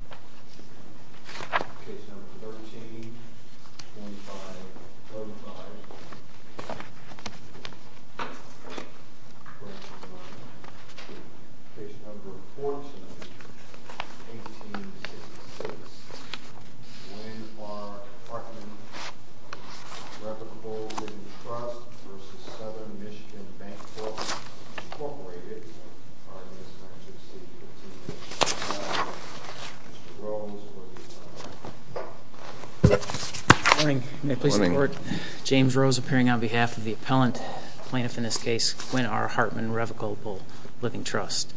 v. South MI Bancorp Incorporated James Rose appearing on behalf of the appellant plaintiff in this case, Quinn R. Hartman Revocable Living Trust.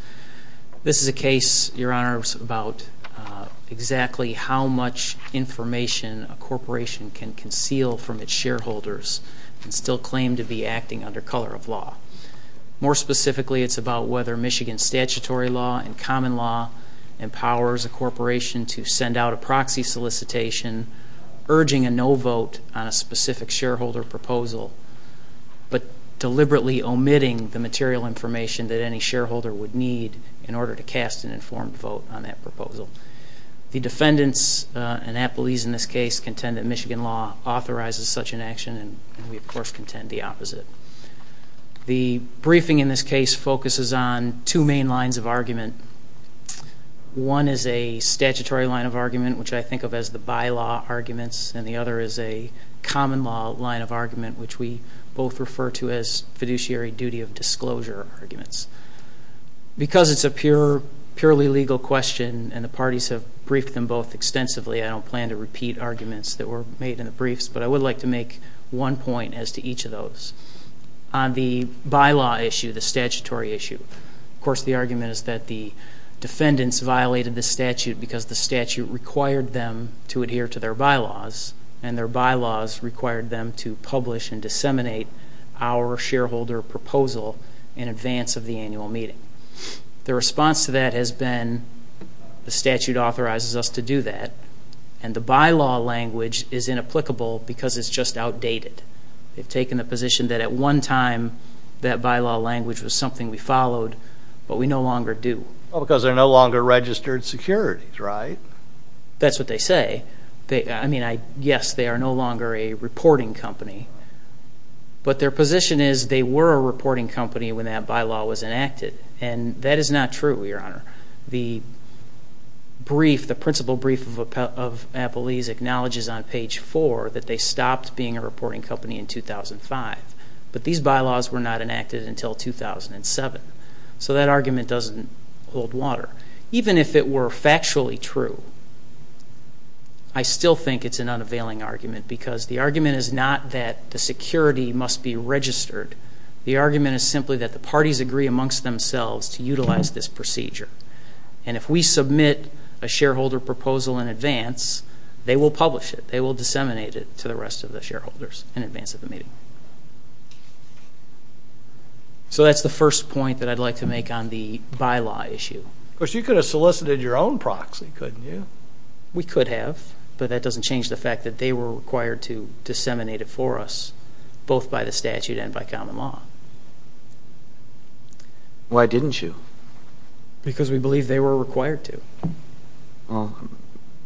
This is a case, your honors, about exactly how much information a corporation can conceal from its shareholders and still claim to be acting under color of law. More specifically, it's about whether Michigan statutory law and common law empowers a corporation to send out a proxy solicitation urging a no vote on a specific shareholder proposal, but deliberately omitting the material information that any shareholder would need in order to cast an informed vote on that proposal. The defendants and appellees in this case contend that Michigan law authorizes such an action, and we of course contend the opposite. The briefing in this case focuses on two main lines of argument. One is a statutory line of argument, which I think of as the bylaw arguments, and the other is a common law line of argument, which we both refer to as fiduciary duty of disclosure arguments. Because it's a purely legal question and the parties have briefed them both extensively, I don't plan to repeat arguments that were made in the briefs, but I would like to make one point as to each of those. On the bylaw issue, the statutory issue, of course the argument is that the defendants violated the statute because the statute required them to adhere to their bylaws, and their bylaws required them to publish and disseminate our shareholder proposal in advance of the annual meeting. The response to that has been the statute authorizes us to do that, and the bylaw language is inapplicable because it's just outdated. They've taken the position that at one time that bylaw language was something we followed, but we no longer do. Because they're no longer registered securities, right? That's what they say. I mean, yes, they are no longer a reporting company, but their position is they were a reporting company when that bylaw was enacted, and that is not true, Your Honor. The brief, the principal brief of Appalese acknowledges on page four that they stopped being a reporting company in 2005, but these bylaws were not enacted until 2007. So that argument doesn't hold water. Even if it were factually true, I still think it's an unavailing argument because the argument is not that the security must be registered. The argument is simply that the parties agree amongst themselves to utilize this procedure. And if we submit a shareholder proposal in advance, they will publish it. They will disseminate it to the rest of the shareholders in advance of the meeting. So that's the first point that I'd like to make on the bylaw issue. Of course, you could have solicited your own proxy, couldn't you? We could have, but that doesn't change the fact that they were required to disseminate it for us, both by the statute and by common law. Why didn't you? Because we believe they were required to. Well,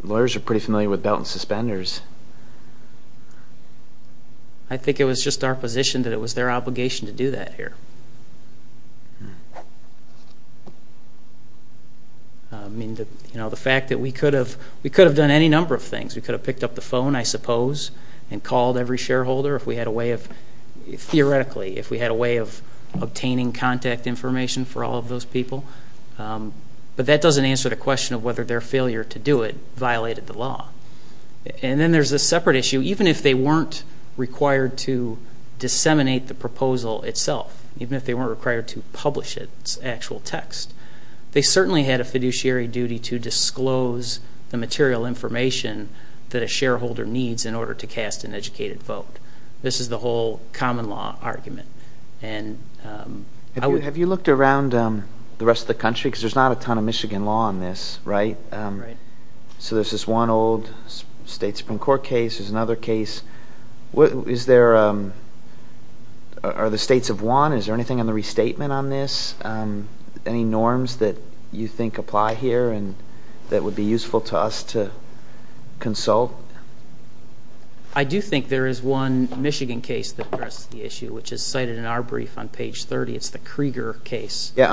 lawyers are pretty familiar with belt and suspenders. I think it was just our position that it was their obligation to do that here. I mean, you know, the fact that we could have done any number of things. We could have picked up the phone, I suppose, and called every shareholder if we had a way of, theoretically, if we had a way of obtaining contact information for all of those people. But that doesn't answer the question of whether their failure to do it violated the law. And then there's a separate issue. Even if they weren't required to disseminate the proposal itself, even if they weren't required to publish its actual text, they certainly had a fiduciary duty to disclose the material information that a shareholder needs in order to cast an educated vote. This is the whole common law argument. Have you looked around the rest of the country? Because there's not a ton of Michigan law on this, right? Right. So there's this one old state supreme court case. There's another case. Is there – are the states of one? Is there anything on the restatement on this? Any norms that you think apply here and that would be useful to us to consult? I do think there is one Michigan case that addresses the issue, which is cited in our brief on page 30. It's the Krieger case. Yeah,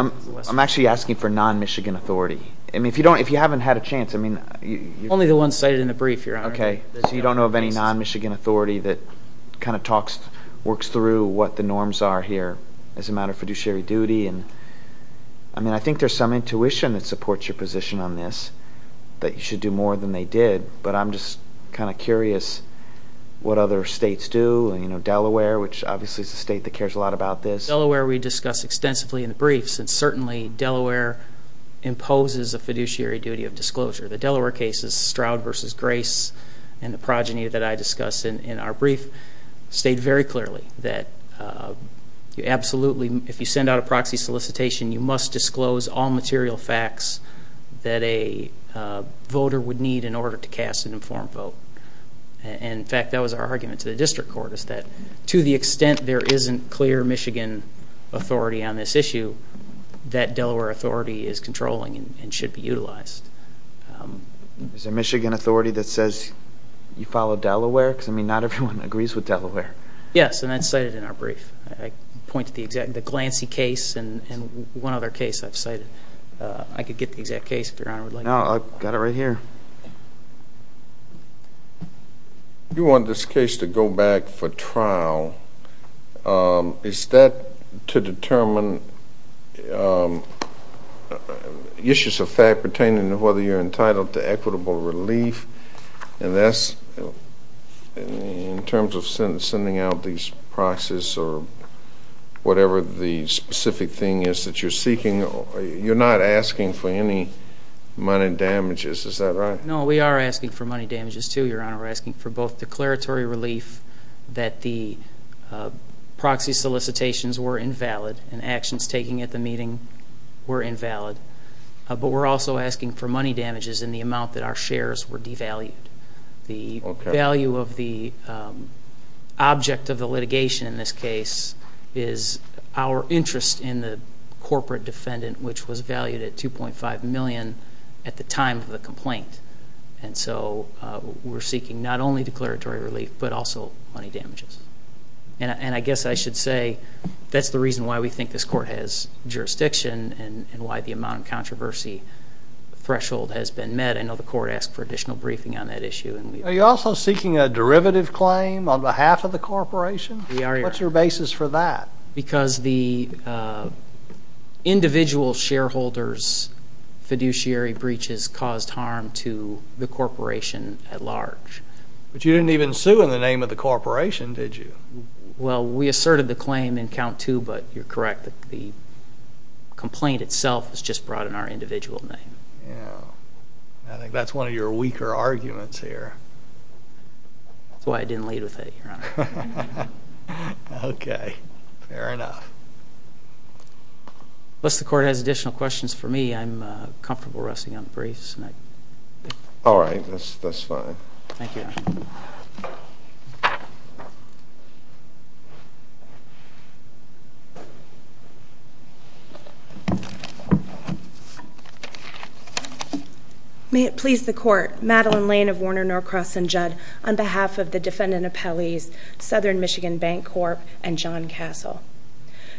I'm actually asking for non-Michigan authority. I mean, if you haven't had a chance, I mean – Only the ones cited in the brief here. Okay. So you don't know of any non-Michigan authority that kind of talks – works through what the norms are here as a matter of fiduciary duty. I mean, I think there's some intuition that supports your position on this, that you should do more than they did. But I'm just kind of curious what other states do. You know, Delaware, which obviously is a state that cares a lot about this. In Delaware, we discuss extensively in the briefs, and certainly Delaware imposes a fiduciary duty of disclosure. The Delaware cases, Stroud v. Grace, and the progeny that I discussed in our brief, state very clearly that you absolutely – if you send out a proxy solicitation, you must disclose all material facts that a voter would need in order to cast an informed vote. And, in fact, that was our argument to the district court, is that to the extent there isn't clear Michigan authority on this issue, that Delaware authority is controlling and should be utilized. Is there Michigan authority that says you follow Delaware? Because, I mean, not everyone agrees with Delaware. Yes, and that's cited in our brief. I point to the glancey case and one other case I've cited. I could get the exact case, if Your Honor would like. No, I've got it right here. You want this case to go back for trial. Is that to determine issues of fact pertaining to whether you're entitled to equitable relief? And that's in terms of sending out these proxies or whatever the specific thing is that you're seeking. You're not asking for any money damages, is that right? No, we are asking for money damages, too, Your Honor. We're asking for both declaratory relief that the proxy solicitations were invalid and actions taken at the meeting were invalid. But we're also asking for money damages in the amount that our shares were devalued. The value of the object of the litigation in this case is our interest in the corporate defendant, which was valued at $2.5 million at the time of the complaint. And so we're seeking not only declaratory relief but also money damages. And I guess I should say that's the reason why we think this court has jurisdiction and why the amount of controversy threshold has been met. I know the court asked for additional briefing on that issue. Are you also seeking a derivative claim on behalf of the corporation? We are, Your Honor. What's your basis for that? Because the individual shareholders' fiduciary breaches caused harm to the corporation at large. But you didn't even sue in the name of the corporation, did you? Well, we asserted the claim in count two, but you're correct. The complaint itself was just brought in our individual name. I think that's one of your weaker arguments here. That's why I didn't lead with it, Your Honor. Okay. Fair enough. Unless the court has additional questions for me, I'm comfortable resting on the briefs. All right. That's fine. Thank you, Your Honor. May it please the Court, Madeline Lane of Warner, Norcross, and Judd, on behalf of the defendant appellees, Southern Michigan Bank Corp., and John Castle.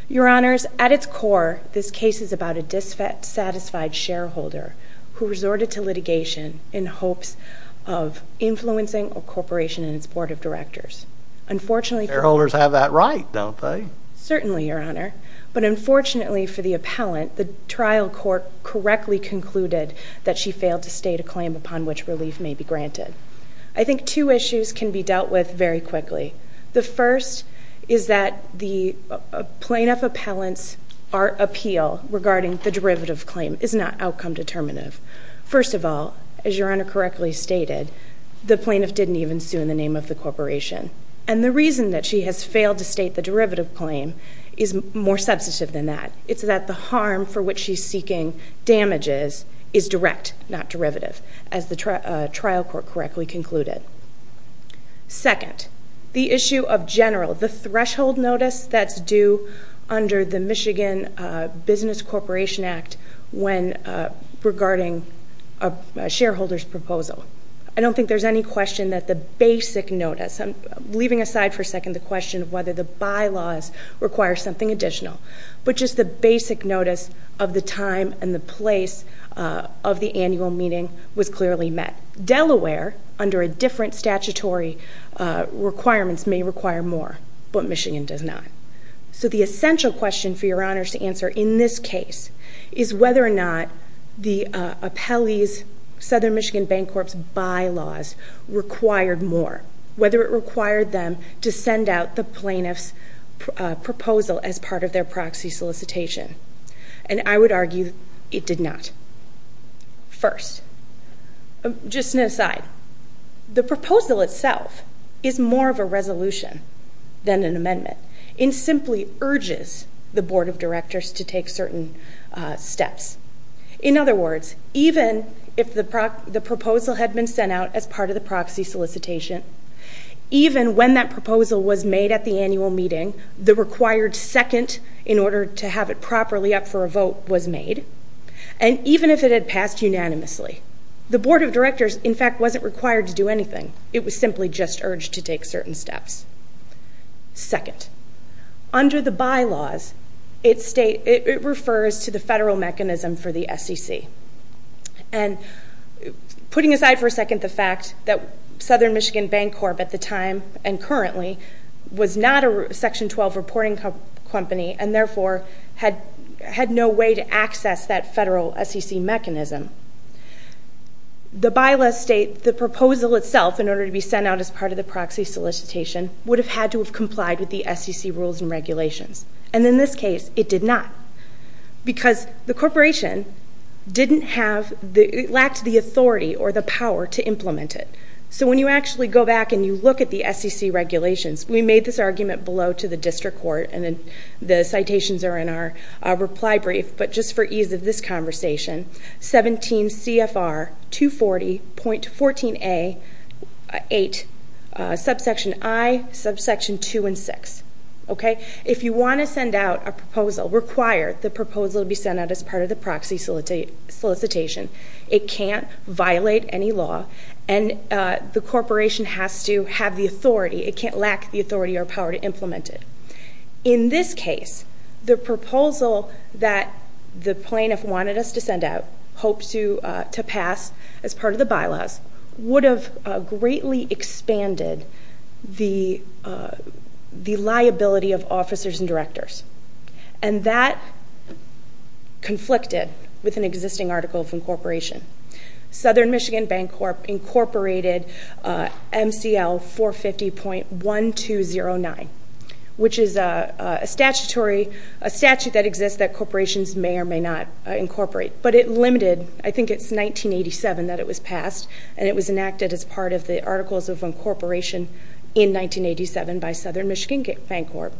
Your Honors, at its core, this case is about a dissatisfied shareholder who resorted to litigation in hopes of influencing a corporation and its board of directors. Shareholders have that right, don't they? Certainly, Your Honor. But unfortunately for the appellant, the trial court correctly concluded that she failed to state a claim upon which relief may be granted. I think two issues can be dealt with very quickly. The first is that the plaintiff appellant's appeal regarding the derivative claim is not outcome determinative. First of all, as Your Honor correctly stated, the plaintiff didn't even sue in the name of the corporation. And the reason that she has failed to state the derivative claim is more substantive than that. It's that the harm for which she's seeking damages is direct, not derivative, as the trial court correctly concluded. Second, the issue of general, the threshold notice that's due under the Michigan Business Corporation Act regarding a shareholder's proposal. I don't think there's any question that the basic notice, leaving aside for a second the question of whether the bylaws require something additional, but just the basic notice of the time and the place of the annual meeting was clearly met. Delaware, under a different statutory requirements, may require more, but Michigan does not. So the essential question for Your Honor to answer in this case is whether or not the appellee's Southern Michigan Bank Corp's bylaws required more, whether it required them to send out the plaintiff's proposal as part of their proxy solicitation. And I would argue it did not. First, just an aside, the proposal itself is more of a resolution than an amendment. It simply urges the board of directors to take certain steps. In other words, even if the proposal had been sent out as part of the proxy solicitation, even when that proposal was made at the annual meeting, the required second in order to have it properly up for a vote was made, and even if it had passed unanimously. The board of directors, in fact, wasn't required to do anything. It was simply just urged to take certain steps. Second, under the bylaws, it refers to the federal mechanism for the SEC. And putting aside for a second the fact that Southern Michigan Bank Corp at the time and currently was not a Section 12 reporting company and therefore had no way to access that federal SEC mechanism, the bylaws state the proposal itself in order to be sent out as part of the proxy solicitation would have had to have complied with the SEC rules and regulations. And in this case, it did not. Because the corporation lacked the authority or the power to implement it. So when you actually go back and you look at the SEC regulations, we made this argument below to the district court, and the citations are in our reply brief, but just for ease of this conversation, 17 CFR 240.14a8, subsection i, subsection 2 and 6. If you want to send out a proposal, require the proposal to be sent out as part of the proxy solicitation. It can't violate any law, and the corporation has to have the authority. It can't lack the authority or power to implement it. In this case, the proposal that the plaintiff wanted us to send out, hoped to pass as part of the bylaws, would have greatly expanded the liability of officers and directors. And that conflicted with an existing article of incorporation. Southern Michigan Bank Corp. incorporated MCL 450.1209, which is a statute that exists that corporations may or may not incorporate. But it limited, I think it's 1987 that it was passed, and it was enacted as part of the Articles of Incorporation in 1987 by Southern Michigan Bank Corp.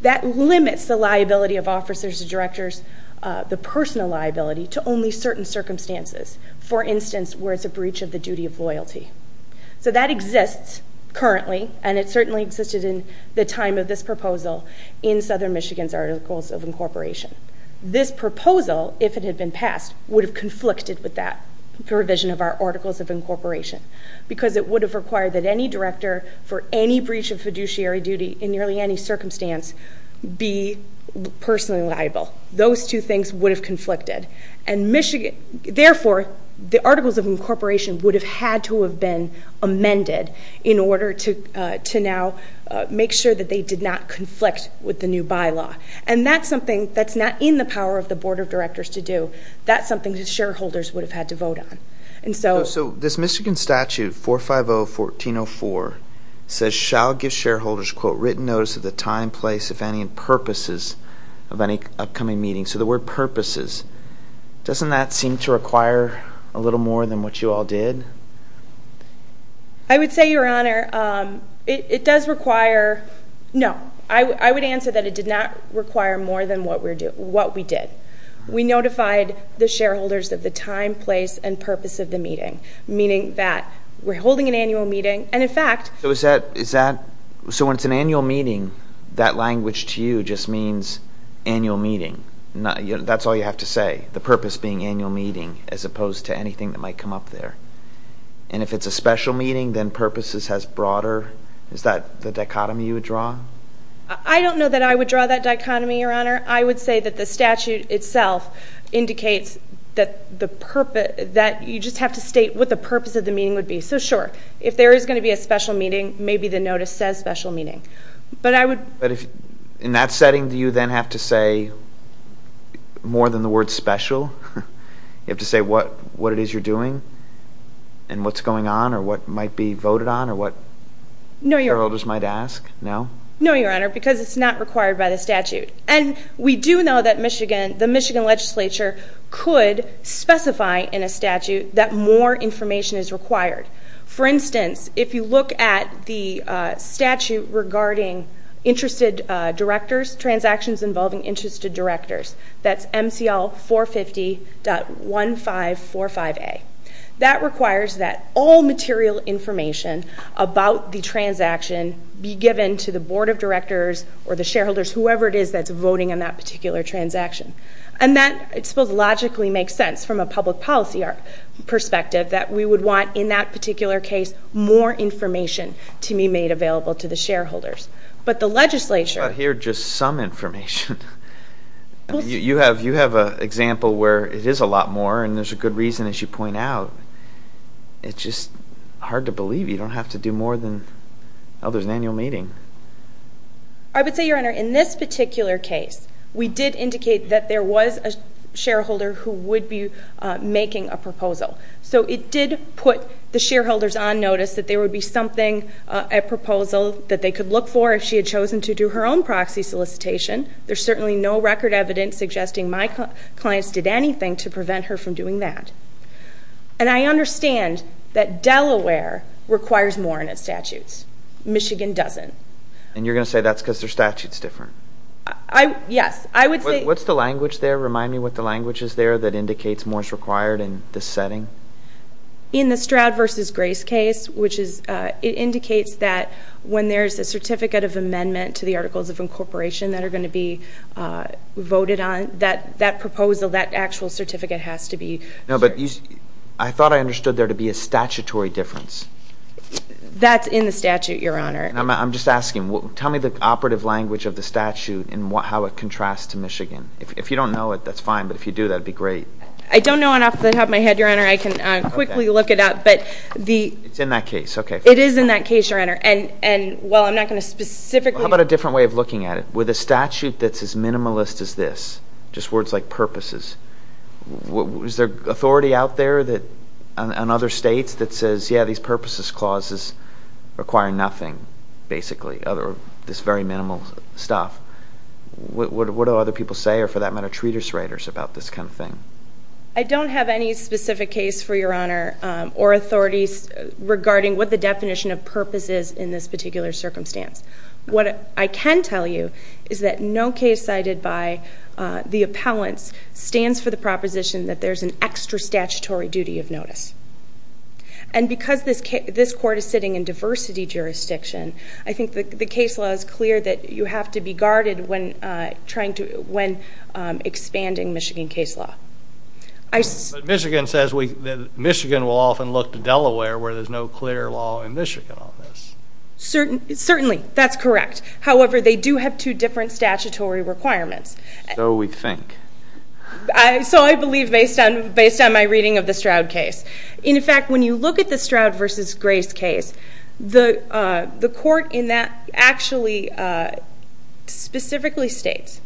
That limits the liability of officers and directors, the personal liability, to only certain circumstances. For instance, where it's a breach of the duty of loyalty. So that exists currently, and it certainly existed in the time of this proposal in Southern Michigan's Articles of Incorporation. This proposal, if it had been passed, would have conflicted with that provision of our Articles of Incorporation, because it would have required that any director for any breach of fiduciary duty in nearly any circumstance be personally liable. Those two things would have conflicted. Therefore, the Articles of Incorporation would have had to have been amended in order to now make sure that they did not conflict with the new bylaw. And that's something that's not in the power of the Board of Directors to do. That's something that shareholders would have had to vote on. So this Michigan Statute 450-1404 says, shall give shareholders, quote, written notice of the time, place, if any, and purposes of any upcoming meeting. So the word purposes, doesn't that seem to require a little more than what you all did? I would say, Your Honor, it does require, no. I would answer that it did not require more than what we did. We notified the shareholders of the time, place, and purpose of the meeting. Meaning that we're holding an annual meeting, and in fact... So when it's an annual meeting, that language to you just means annual meeting. That's all you have to say. The purpose being annual meeting, as opposed to anything that might come up there. And if it's a special meeting, then purposes has broader... Is that the dichotomy you would draw? I don't know that I would draw that dichotomy, Your Honor. I would say that the statute itself indicates that you just have to state what the purpose of the meeting would be. So sure, if there is going to be a special meeting, maybe the notice says special meeting. But in that setting, do you then have to say more than the word special? You have to say what it is you're doing, and what's going on, or what might be voted on, or what shareholders might ask? No, Your Honor, because it's not required by the statute. And we do know that the Michigan legislature could specify in a statute that more information is required. For instance, if you look at the statute regarding interested directors, transactions involving interested directors, that's MCL 450.1545A. That requires that all material information about the transaction be given to the board of directors or the shareholders, whoever it is that's voting on that particular transaction. And that still logically makes sense from a public policy perspective, that we would want, in that particular case, more information to be made available to the shareholders. But the legislature... But here, just some information. You have an example where it is a lot more, and there's a good reason, as you point out. It's just hard to believe you don't have to do more than, oh, there's an annual meeting. I would say, Your Honor, in this particular case, we did indicate that there was a shareholder who would be making a proposal. So it did put the shareholders on notice that there would be something, a proposal, that they could look for if she had chosen to do her own proxy solicitation. There's certainly no record evidence suggesting my clients did anything to prevent her from doing that. And I understand that Delaware requires more in its statutes. Michigan doesn't. And you're going to say that's because their statute's different? Yes. I would say... What's the language there? Remind me what the language is there that indicates more is required in this setting. In the Stroud v. Grace case, it indicates that when there's a certificate of amendment to the Articles of Incorporation that are going to be voted on, that that proposal, that actual certificate has to be... No, but I thought I understood there to be a statutory difference. That's in the statute, Your Honor. I'm just asking, tell me the operative language of the statute and how it contrasts to Michigan. If you don't know it, that's fine, but if you do, that would be great. I don't know enough to have my head, Your Honor. I can quickly look it up, but the... It's in that case, okay. It is in that case, Your Honor. And while I'm not going to specifically... How about a different way of looking at it? With a statute that's as minimalist as this, just words like purposes, is there authority out there on other states that says, yeah, these purposes clauses require nothing, basically, other than this very minimal stuff? What do other people say, or for that matter, treatise writers about this kind of thing? I don't have any specific case, for Your Honor, or authorities regarding what the definition of purpose is in this particular circumstance. What I can tell you is that no case cited by the appellants stands for the proposition that there's an extra statutory duty of notice. And because this court is sitting in diversity jurisdiction, I think the case law is clear that you have to be guarded when expanding Michigan case law. Michigan says that Michigan will often look to Delaware where there's no clear law in Michigan on this. Certainly, that's correct. However, they do have two different statutory requirements. So we think. So I believe based on my reading of the Stroud case. In fact, when you look at the Stroud v. Grace case, the court in that actually specifically states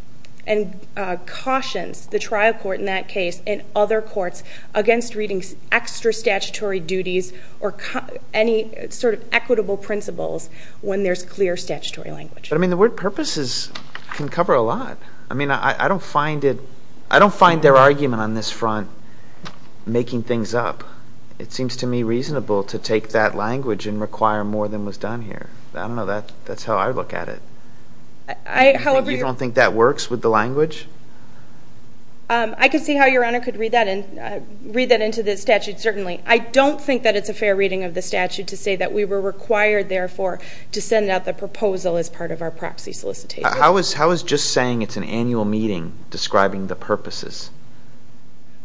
and cautions the trial court in that case and other courts against reading extra statutory duties or any sort of equitable principles when there's clear statutory language. I mean, the word purposes can cover a lot. I mean, I don't find it. I don't find their argument on this front making things up. It seems to me reasonable to take that language and require more than was done here. I don't know. That's how I look at it. You don't think that works with the language? I can see how Your Honor could read that into the statute, certainly. I don't think that it's a fair reading of the statute to say that we were required, therefore, to send out the proposal as part of our proxy solicitation. How is just saying it's an annual meeting describing the purposes?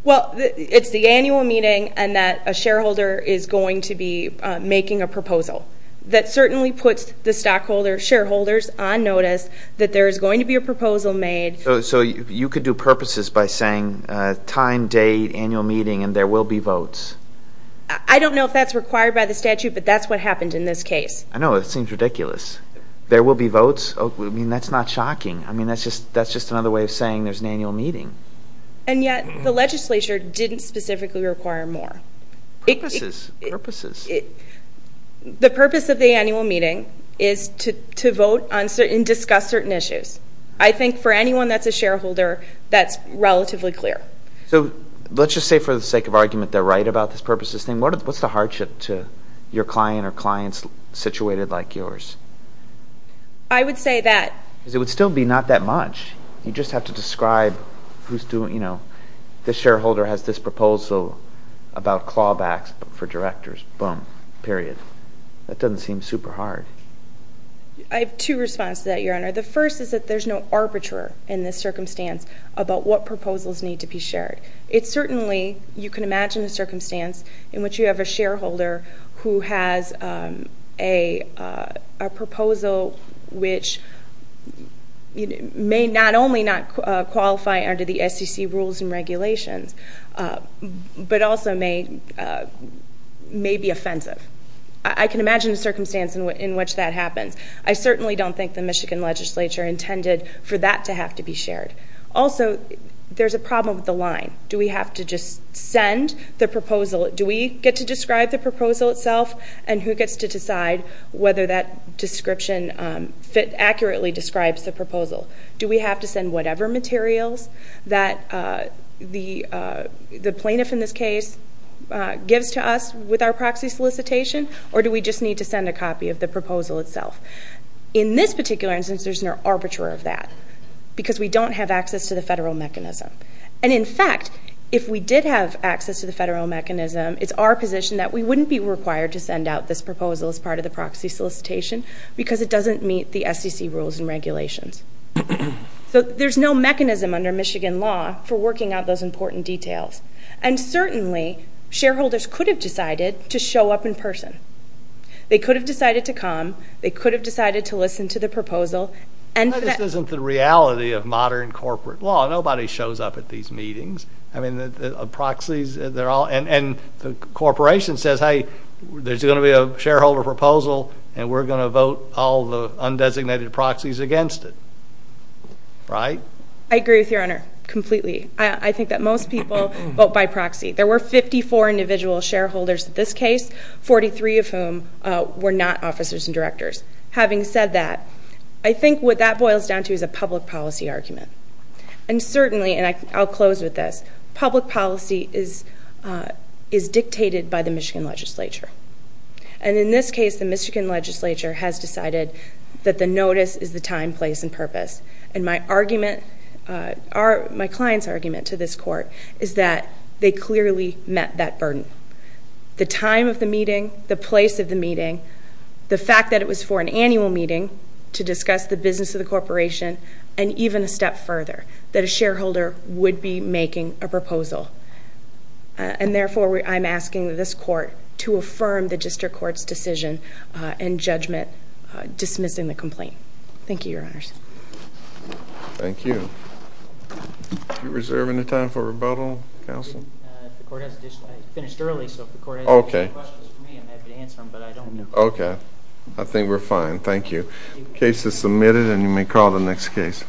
Well, it's the annual meeting and that a shareholder is going to be making a proposal. That certainly puts the stockholders, shareholders, on notice that there is going to be a proposal made. So you could do purposes by saying time, date, annual meeting, and there will be votes. I don't know if that's required by the statute, but that's what happened in this case. I know. It seems ridiculous. There will be votes? I mean, that's not shocking. I mean, that's just another way of saying there's an annual meeting. And yet the legislature didn't specifically require more. Purposes, purposes. The purpose of the annual meeting is to vote and discuss certain issues. I think for anyone that's a shareholder, that's relatively clear. So let's just say for the sake of argument they're right about this purposes thing. What's the hardship to your client or clients situated like yours? I would say that. Because it would still be not that much. You'd just have to describe who's doing, you know, this shareholder has this proposal about clawbacks for directors, boom, period. That doesn't seem super hard. I have two responses to that, Your Honor. The first is that there's no arbiter in this circumstance about what proposals need to be shared. It's certainly, you can imagine the circumstance in which you have a shareholder who has a proposal which may not only not qualify under the SEC rules and regulations, but also may be offensive. I can imagine the circumstance in which that happens. I certainly don't think the Michigan legislature intended for that to have to be shared. Also, there's a problem with the line. Do we have to just send the proposal? Do we get to describe the proposal itself? And who gets to decide whether that description accurately describes the proposal? Do we have to send whatever materials that the plaintiff, in this case, gives to us with our proxy solicitation? Or do we just need to send a copy of the proposal itself? In this particular instance, there's no arbiter of that. Because we don't have access to the federal mechanism. And, in fact, if we did have access to the federal mechanism, it's our position that we wouldn't be required to send out this proposal as part of the proxy solicitation because it doesn't meet the SEC rules and regulations. So there's no mechanism under Michigan law for working out those important details. And certainly, shareholders could have decided to show up in person. They could have decided to come. They could have decided to listen to the proposal. This isn't the reality of modern corporate law. Nobody shows up at these meetings. I mean, proxies, they're all ñ and the corporation says, hey, there's going to be a shareholder proposal, and we're going to vote all the undesignated proxies against it. Right? I agree with you, Your Honor, completely. I think that most people vote by proxy. 43 of whom were not officers and directors. Having said that, I think what that boils down to is a public policy argument. And certainly, and I'll close with this, public policy is dictated by the Michigan legislature. And in this case, the Michigan legislature has decided that the notice is the time, place, and purpose. And my client's argument to this court is that they clearly met that burden. The time of the meeting, the place of the meeting, the fact that it was for an annual meeting to discuss the business of the corporation, and even a step further, that a shareholder would be making a proposal. And therefore, I'm asking this court to affirm the district court's decision and judgment dismissing the complaint. Thank you, Your Honors. Do you reserve any time for rebuttal, counsel? I finished early, so if the court has additional questions for me, I'm happy to answer them, but I don't know. Okay. I think we're fine. Thank you. The case is submitted, and you may call the next case.